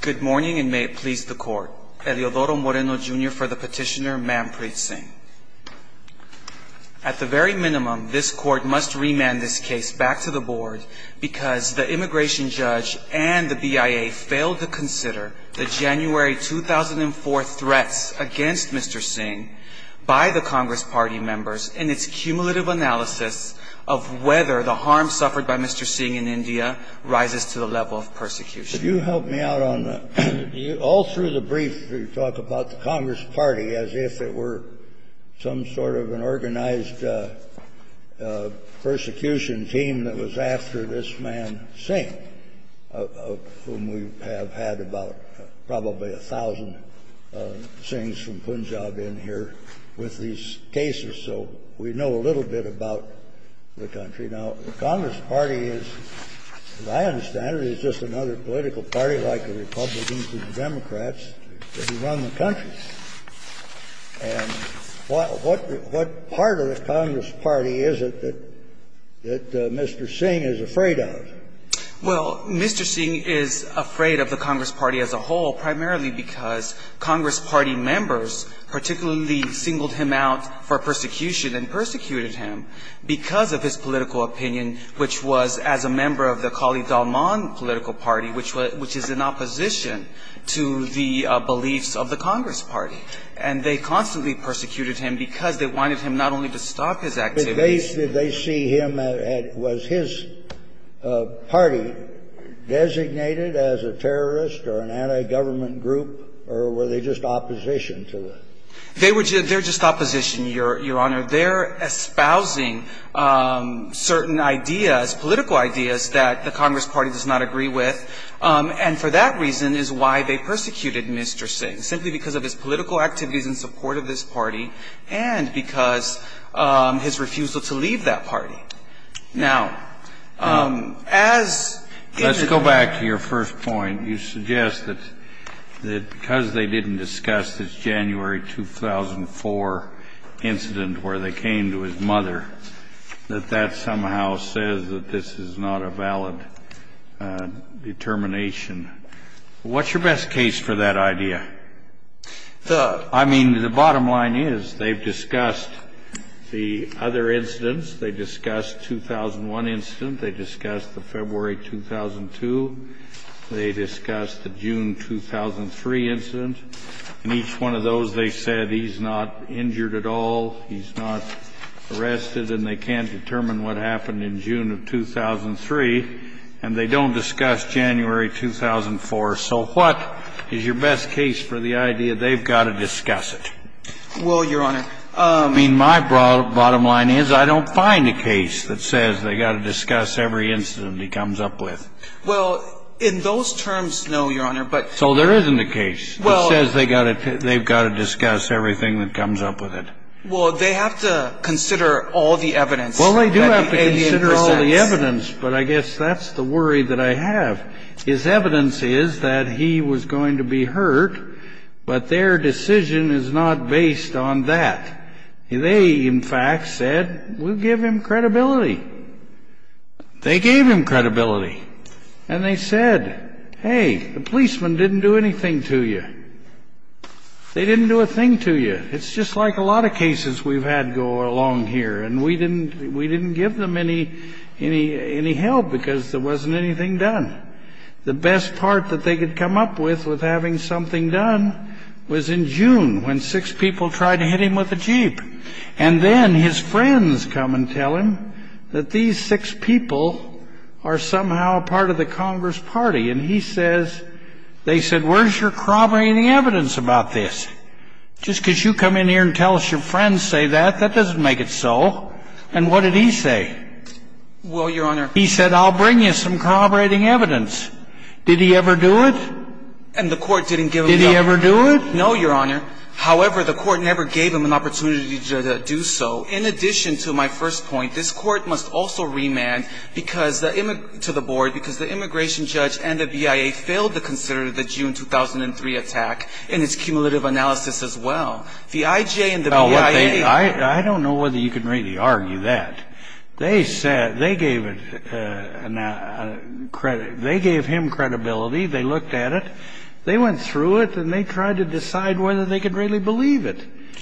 Good morning and may it please the court. Eliodoro Moreno Jr. for the petitioner Manprit Singh. At the very minimum, this court must remand this case back to the board because the immigration judge and the BIA failed to consider the January 2004 threats against Mr. Singh by the Congress Party members in its cumulative analysis of whether the harm suffered by Mr. Singh in India rises to the level of persecution. Could you help me out on that? All through the brief, you talk about the Congress Party as if it were some sort of an organized persecution team that was after this man Singh, of whom we have had about probably a thousand Singhs from Punjab in here with these cases, so we know a little bit about the country. Now, the Congress Party is, as I understand it, is just another political party like the Republicans and the Democrats that run the country. And what part of the Congress Party is it that Mr. Singh is afraid of? Well, Mr. Singh is afraid of the Congress Party as a whole primarily because Congress Party members particularly singled him out for persecution and persecuted him because of his political opinion, which was, as a member of the Kali Dalman political party, which is in opposition to the beliefs of the Congress Party. And they constantly persecuted him because they wanted him not only to stop his activities But did they see him as his party designated as a terrorist or an anti-government group, or were they just opposition to it? They were just opposition, Your Honor. They're espousing certain ideas, political ideas that the Congress Party does not agree with, and for that reason is why they persecuted Mr. Singh, simply because of his political activities in support of this party and because his refusal to leave that party. Now, as it is Let's go back to your first point. You suggest that because they didn't discuss this January 2004 incident where they came to his mother, that that somehow says that this is not a valid determination. What's your best case for that idea? I mean, the bottom line is they've discussed the other incidents. They discussed the 2001 incident. They discussed the February 2002. They discussed the June 2003 incident. In each one of those, they said he's not injured at all, he's not arrested, and they can't determine what happened in June of 2003, and they don't discuss January 2004. So what is your best case for the idea they've got to discuss it? Well, Your Honor, I mean, my bottom line is I don't find a case that says they've got to discuss every incident he comes up with. Well, in those terms, no, Your Honor, but So there isn't a case that says they've got to discuss everything that comes up with it. Well, they have to consider all the evidence that he presents. Well, they do have to consider all the evidence, but I guess that's the worry that I have. His evidence is that he was going to be hurt, but their decision is not based on that. They, in fact, said we'll give him credibility. They gave him credibility. And they said, hey, the policemen didn't do anything to you. They didn't do a thing to you. It's just like a lot of cases we've had go along here, and we didn't give them any help because there wasn't anything done. The best part that they could come up with, with having something done, And then his friends come and tell him that these six people are somehow part of the Congress Party. And he says, they said, where's your corroborating evidence about this? Just because you come in here and tell us your friends say that, that doesn't make it so. And what did he say? Well, Your Honor, He said, I'll bring you some corroborating evidence. Did he ever do it? And the court didn't give him the opportunity. Did he ever do it? No, Your Honor. However, the court never gave him an opportunity to do so. In addition to my first point, this court must also remand to the board because the immigration judge and the BIA failed to consider the June 2003 attack in its cumulative analysis as well. The IJ and the BIA I don't know whether you can really argue that. They gave him credibility. They looked at it. They went through it and they tried to decide whether they could really believe it.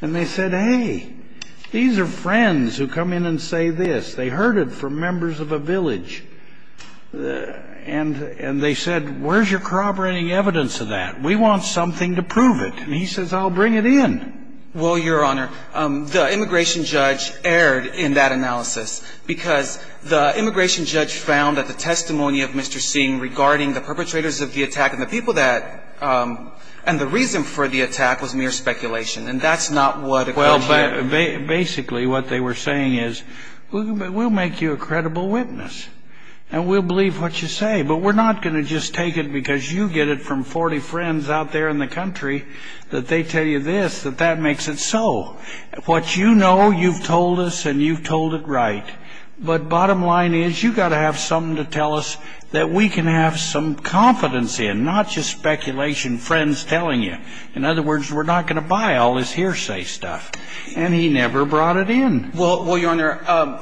And they said, hey, these are friends who come in and say this. They heard it from members of a village. And they said, where's your corroborating evidence of that? We want something to prove it. And he says, I'll bring it in. Well, Your Honor, the immigration judge erred in that analysis because the immigration judge found that the testimony of Mr. Singh regarding the perpetrators of the attack and the people that and the reason for the attack was mere speculation. And that's not what occurs here. Well, but basically what they were saying is, we'll make you a credible witness. And we'll believe what you say. But we're not going to just take it because you get it from 40 friends out there in the country that they tell you this, that that makes it so. What you know, you've told us and you've told it right. But bottom line is, you've got to have something to tell us that we can have some confidence in, not just speculation friends telling you. In other words, we're not going to buy all this hearsay stuff. And he never brought it in. Well, Your Honor,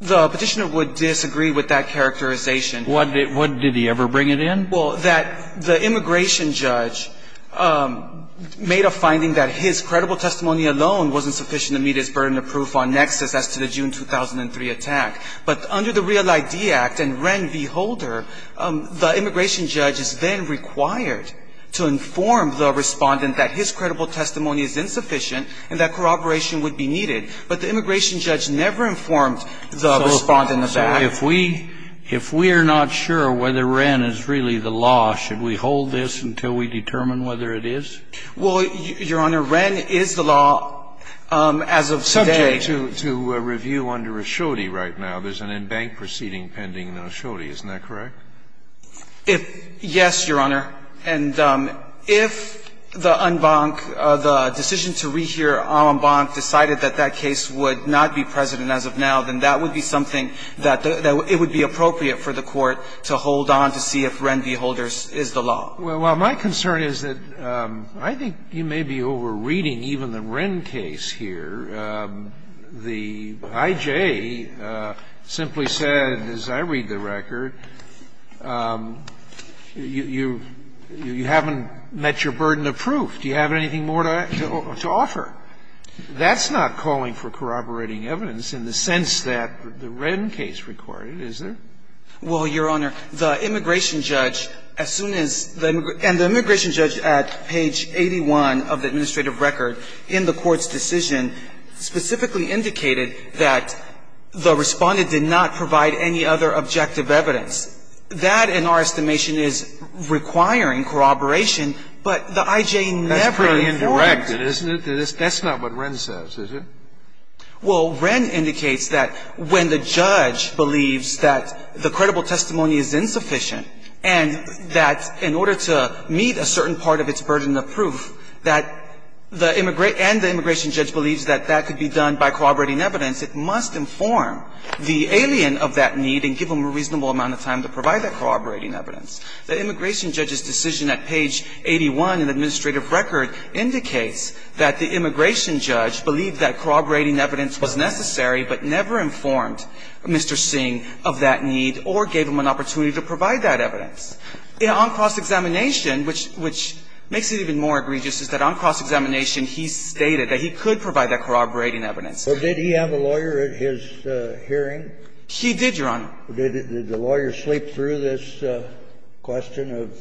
the Petitioner would disagree with that characterization. What did he ever bring it in? Well, that the immigration judge made a finding that his credible testimony alone wasn't sufficient to meet his burden of proof on nexus as to the June 2003 attack. But under the Real ID Act and Wren v. Holder, the immigration judge is then required to inform the respondent that his credible testimony is insufficient and that corroboration would be needed. But the immigration judge never informed the respondent of that. So if we are not sure whether Wren is really the law, should we hold this until we determine whether it is? Well, Your Honor, Wren is the law as of today. It's subject to review under Ashodi right now. There's an embanked proceeding pending in Ashodi. Isn't that correct? Yes, Your Honor. And if the en banc, the decision to rehear en banc decided that that case would not be present as of now, then that would be something that it would be appropriate for the Court to hold on to see if Wren v. Holder is the law. Well, my concern is that I think you may be over-reading even the Wren case here. The I.J. simply said, as I read the record, you haven't met your burden of proof. Do you have anything more to offer? That's not calling for corroborating evidence in the sense that the Wren case required. Is there? Well, Your Honor, the immigration judge, as soon as the immigration judge at page 81 of the administrative record in the Court's decision specifically indicated that the Respondent did not provide any other objective evidence. That, in our estimation, is requiring corroboration, but the I.J. never informed. That's pretty indirect, isn't it? That's not what Wren says, is it? Well, Wren indicates that when the judge believes that the credible testimony is insufficient and that in order to meet a certain part of its burden of proof that the immigration – and the immigration judge believes that that could be done by corroborating evidence, it must inform the alien of that need and give them a reasonable amount of time to provide that corroborating evidence. The immigration judge's decision at page 81 in the administrative record indicates that the immigration judge believed that corroborating evidence was necessary but never informed Mr. Singh of that need or gave him an opportunity to provide that evidence. On cross-examination, which makes it even more egregious, is that on cross-examination he stated that he could provide that corroborating evidence. But did he have a lawyer at his hearing? He did, Your Honor. Did the lawyer sleep through this question of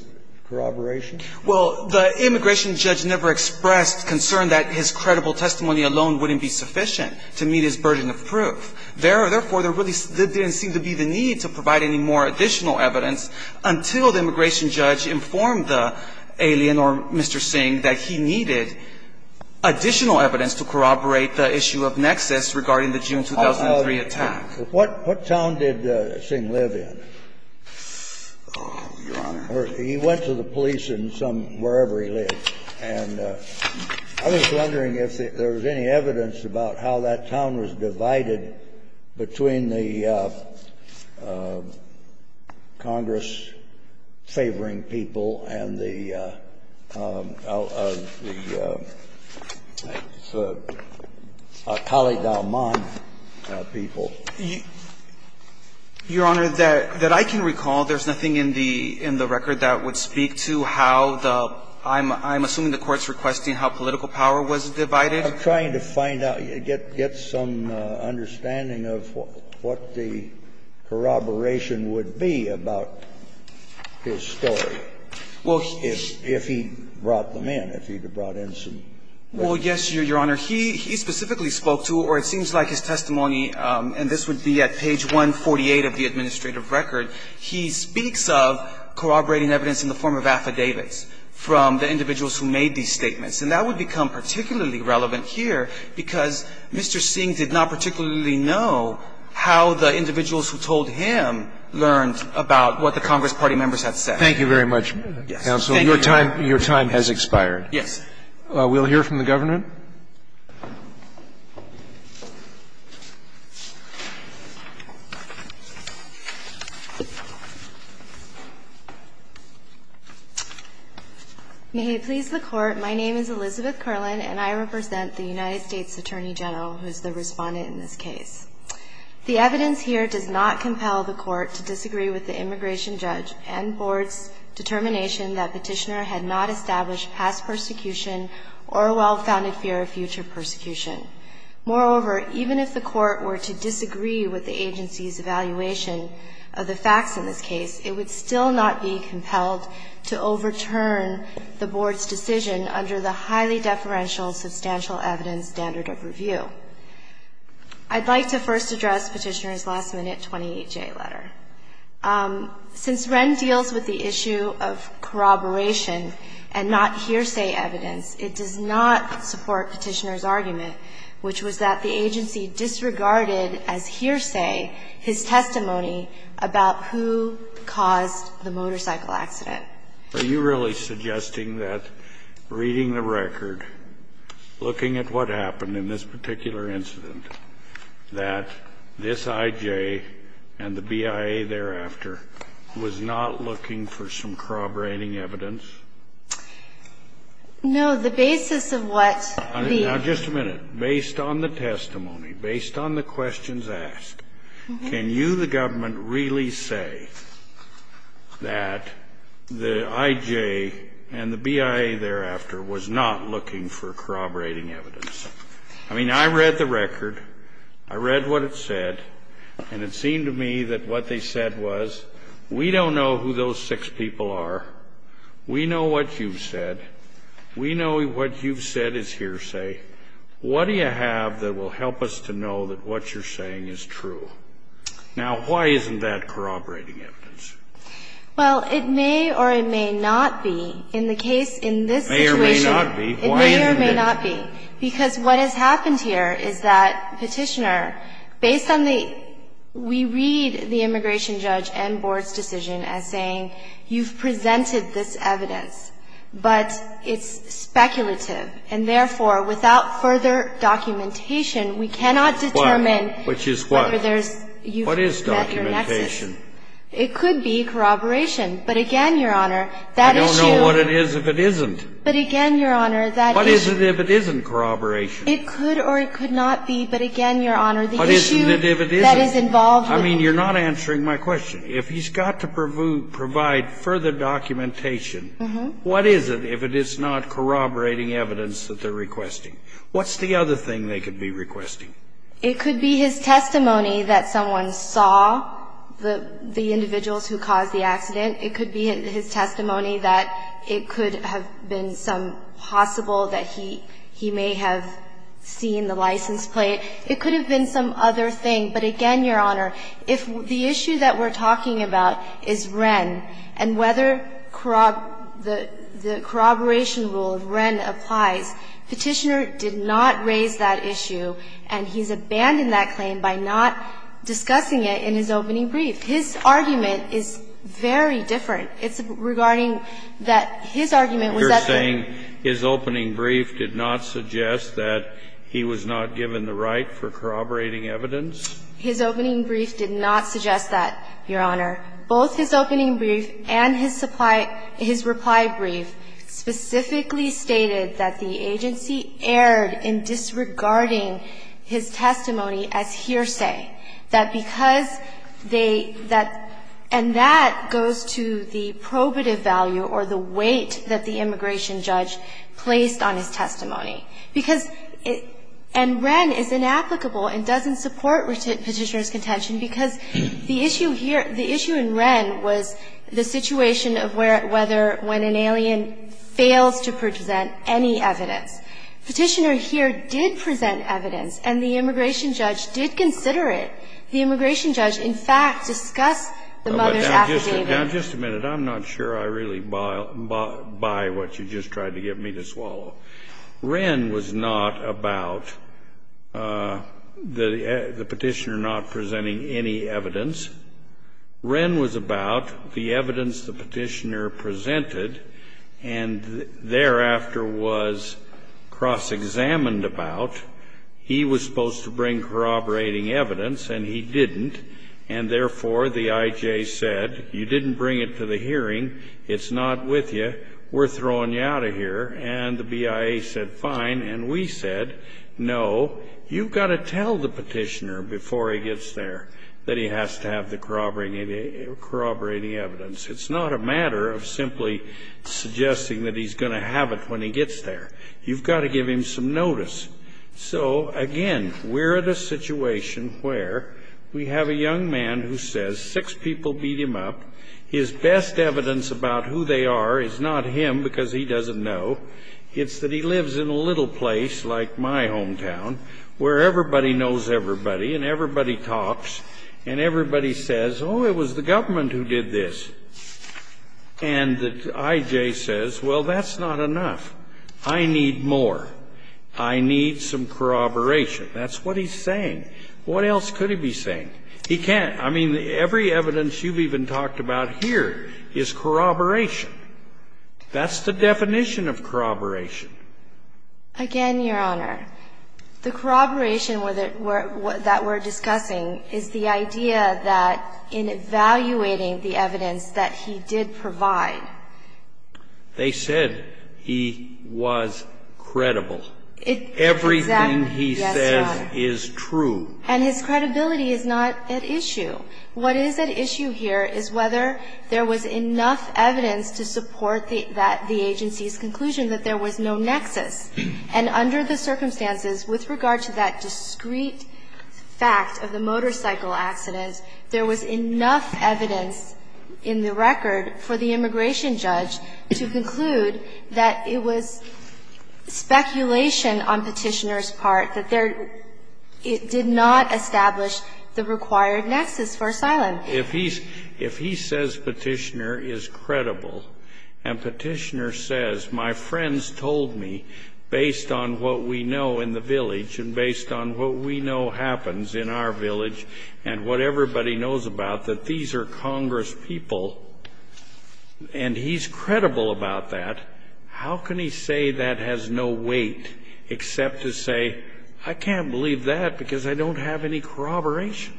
corroboration? Well, the immigration judge never expressed concern that his credible testimony alone wouldn't be sufficient to meet his burden of proof. Therefore, there really didn't seem to be the need to provide any more additional evidence until the immigration judge informed the alien or Mr. Singh that he needed additional evidence to corroborate the issue of nexus regarding the June 2003 attack. What town did Singh live in? Oh, Your Honor. He went to the police in some wherever he lived. And I was wondering if there was any evidence about how that town was divided between the Congress-favoring people and the Cali-Dalman people. Your Honor, that I can recall, there's nothing in the record that would speak to how the – I'm assuming the Court's requesting how political power was divided. I'm trying to find out, get some understanding of what the corroboration would be about his story if he brought them in, if he had brought in some evidence. Well, yes, Your Honor. He specifically spoke to, or it seems like his testimony, and this would be at page 148 of the administrative record, he speaks of corroborating evidence in the form of affidavits from the individuals who made these statements. And that would become particularly relevant here because Mr. Singh did not particularly know how the individuals who told him learned about what the Congress party members had said. Thank you very much, counsel. Your time has expired. Yes. We'll hear from the Governor. Ms. Curlin. May it please the Court, my name is Elizabeth Curlin, and I represent the United States Attorney General, who is the respondent in this case. The evidence here does not compel the Court to disagree with the immigration judge and board's determination that Petitioner had not established past persecution or a well-founded connection with the immigration judge. Moreover, even if the Court were to disagree with the agency's evaluation of the facts in this case, it would still not be compelled to overturn the board's decision under the highly deferential substantial evidence standard of review. I'd like to first address Petitioner's last-minute 28J letter. Since Wren deals with the issue of corroboration and not hearsay evidence, it does not support Petitioner's argument, which was that the agency disregarded, as hearsay, his testimony about who caused the motorcycle accident. Are you really suggesting that reading the record, looking at what happened in this particular incident, that this IJ and the BIA thereafter was not looking for some corroborating evidence? No. The basis of what the ---- Now, just a minute. Based on the testimony, based on the questions asked, can you, the government, really say that the IJ and the BIA thereafter was not looking for corroborating evidence? I mean, I read the record. I read what it said. And it seemed to me that what they said was, we don't know who those six people are. We know what you've said. We know what you've said is hearsay. What do you have that will help us to know that what you're saying is true? Now, why isn't that corroborating evidence? Well, it may or it may not be in the case in this situation. May or may not be. Why isn't it? It may or may not be, because what has happened here is that Petitioner, based on the immigration judge and board's decision, as saying, you've presented this evidence, but it's speculative, and therefore, without further documentation, we cannot determine whether there's ---- Which is what? What is documentation? It could be corroboration. But again, Your Honor, that issue ---- I don't know what it is if it isn't. But again, Your Honor, that issue ---- What is it if it isn't corroboration? It could or it could not be. But again, Your Honor, the issue ---- That is involved with ---- I mean, you're not answering my question. If he's got to provide further documentation, what is it if it is not corroborating evidence that they're requesting? What's the other thing they could be requesting? It could be his testimony that someone saw the individuals who caused the accident. It could be his testimony that it could have been some possible that he may have seen the license plate. It could have been some other thing. But again, Your Honor, if the issue that we're talking about is Wren and whether corrob ---- the corroboration rule of Wren applies, Petitioner did not raise that issue, and he's abandoned that claim by not discussing it in his opening brief. His argument is very different. It's regarding that his argument was that the ---- His opening brief did not suggest that, Your Honor. Both his opening brief and his supply ---- his reply brief specifically stated that the agency erred in disregarding his testimony as hearsay, that because they ---- that ---- and that goes to the probative value or the weight that the immigration judge placed on his testimony. Because it ---- and Wren is inapplicable and doesn't support Petitioner's contention because the issue here ---- the issue in Wren was the situation of where ---- whether when an alien fails to present any evidence. Petitioner here did present evidence, and the immigration judge did consider it. The immigration judge, in fact, discussed the mother's affidavit. Now, just a minute. I'm not sure I really buy what you just tried to get me to swallow. Wren was not about the Petitioner not presenting any evidence. Wren was about the evidence the Petitioner presented and thereafter was cross-examined about. He was supposed to bring corroborating evidence, and he didn't, and therefore the I.J. said, you didn't bring it to the hearing, it's not with you, we're throwing you out of here. And the BIA said, fine. And we said, no, you've got to tell the Petitioner before he gets there that he has to have the corroborating evidence. It's not a matter of simply suggesting that he's going to have it when he gets there. You've got to give him some notice. So, again, we're at a situation where we have a young man who says six people beat him up. His best evidence about who they are is not him because he doesn't know. It's that he lives in a little place like my hometown where everybody knows everybody and everybody talks and everybody says, oh, it was the government who did this. And the I.J. says, well, that's not enough. I need more. I need some corroboration. That's what he's saying. What else could he be saying? He can't. I mean, every evidence you've even talked about here is corroboration. That's the definition of corroboration. Again, Your Honor, the corroboration that we're discussing is the idea that in evaluating the evidence that he did provide. They said he was credible. Everything he says is true. And his credibility is not at issue. What is at issue here is whether there was enough evidence to support the agency's conclusion that there was no nexus. And under the circumstances with regard to that discreet fact of the motorcycle accident, there was enough evidence in the record for the immigration judge to conclude that it was speculation on Petitioner's part that there did not establish the required nexus for asylum. If he says Petitioner is credible, and Petitioner says, my friends told me, based on what we know in the village and based on what we know happens in our village and what everybody knows about, that these are Congress people, and he's credible about that, how can he say that has no weight except to say, I can't believe that because I don't have any corroboration?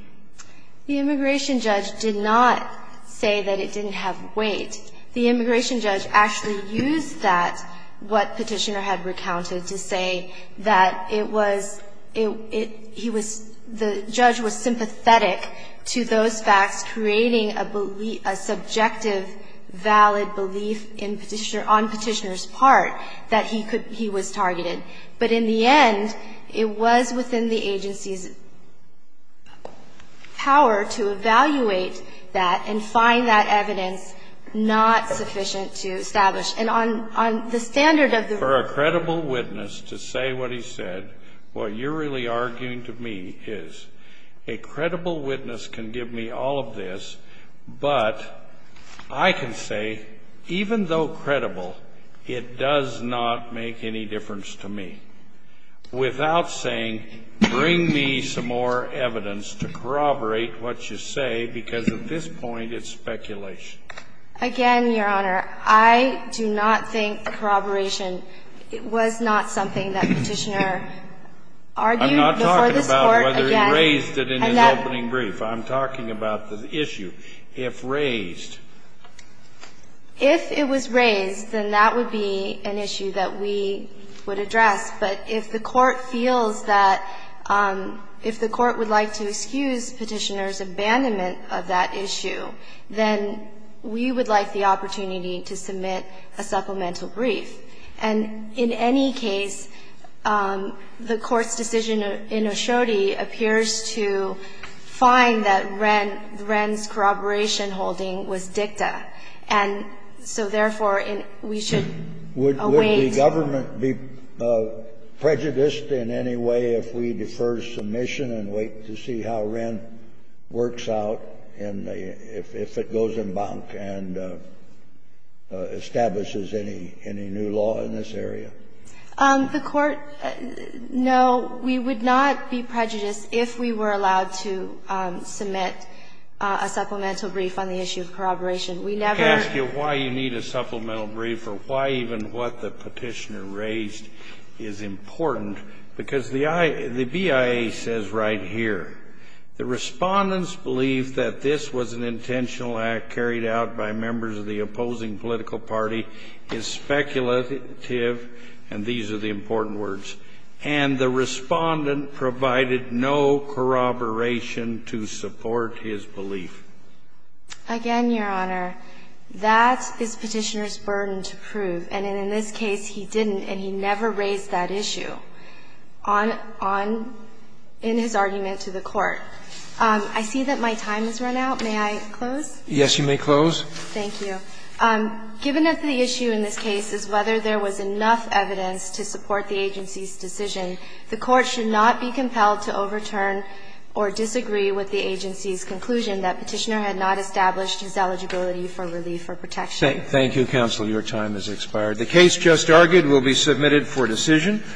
The immigration judge did not say that it didn't have weight. The immigration judge actually used that, what Petitioner had recounted, to say that it was he was the judge was sympathetic to those facts, creating a subjective, valid belief in Petitioner, on Petitioner's part, that he could, he was targeted. But in the end, it was within the agency's power to evaluate that and find that evidence not sufficient to establish. And on the standard of the verdict. For a credible witness to say what he said, what you're really arguing to me is a credible witness can give me all of this, but I can say, even though credible, it does not make any difference to me, without saying, bring me some more evidence to corroborate what you say, because at this point, it's speculation. Again, Your Honor, I do not think corroboration was not something that Petitioner argued before this Court. I don't know whether he raised it in his opening brief. I'm talking about the issue, if raised. If it was raised, then that would be an issue that we would address. But if the Court feels that, if the Court would like to excuse Petitioner's abandonment of that issue, then we would like the opportunity to submit a supplemental brief. And in any case, the Court's decision in Oshodi appears to find that Wren, Wren's corroboration holding was dicta. And so, therefore, we should await. Kennedy. Would the government be prejudiced in any way if we defer submission and wait to see how Wren works out and if it goes embank and establishes any new law in this area? The Court, no, we would not be prejudiced if we were allowed to submit a supplemental brief on the issue of corroboration. We never ask you why you need a supplemental brief or why even what the Petitioner has raised is important. Because the BIA says right here, the Respondent's belief that this was an intentional act carried out by members of the opposing political party is speculative, and these are the important words. And the Respondent provided no corroboration to support his belief. Again, Your Honor, that is Petitioner's burden to prove. And in this case, he didn't, and he never raised that issue on his argument to the Court. I see that my time has run out. May I close? Yes, you may close. Thank you. Given that the issue in this case is whether there was enough evidence to support the agency's decision, the Court should not be compelled to overturn or disagree with the agency's conclusion that Petitioner had not established his eligibility for relief or protection. Thank you, counsel. Your time has expired. The case just argued will be submitted for decision.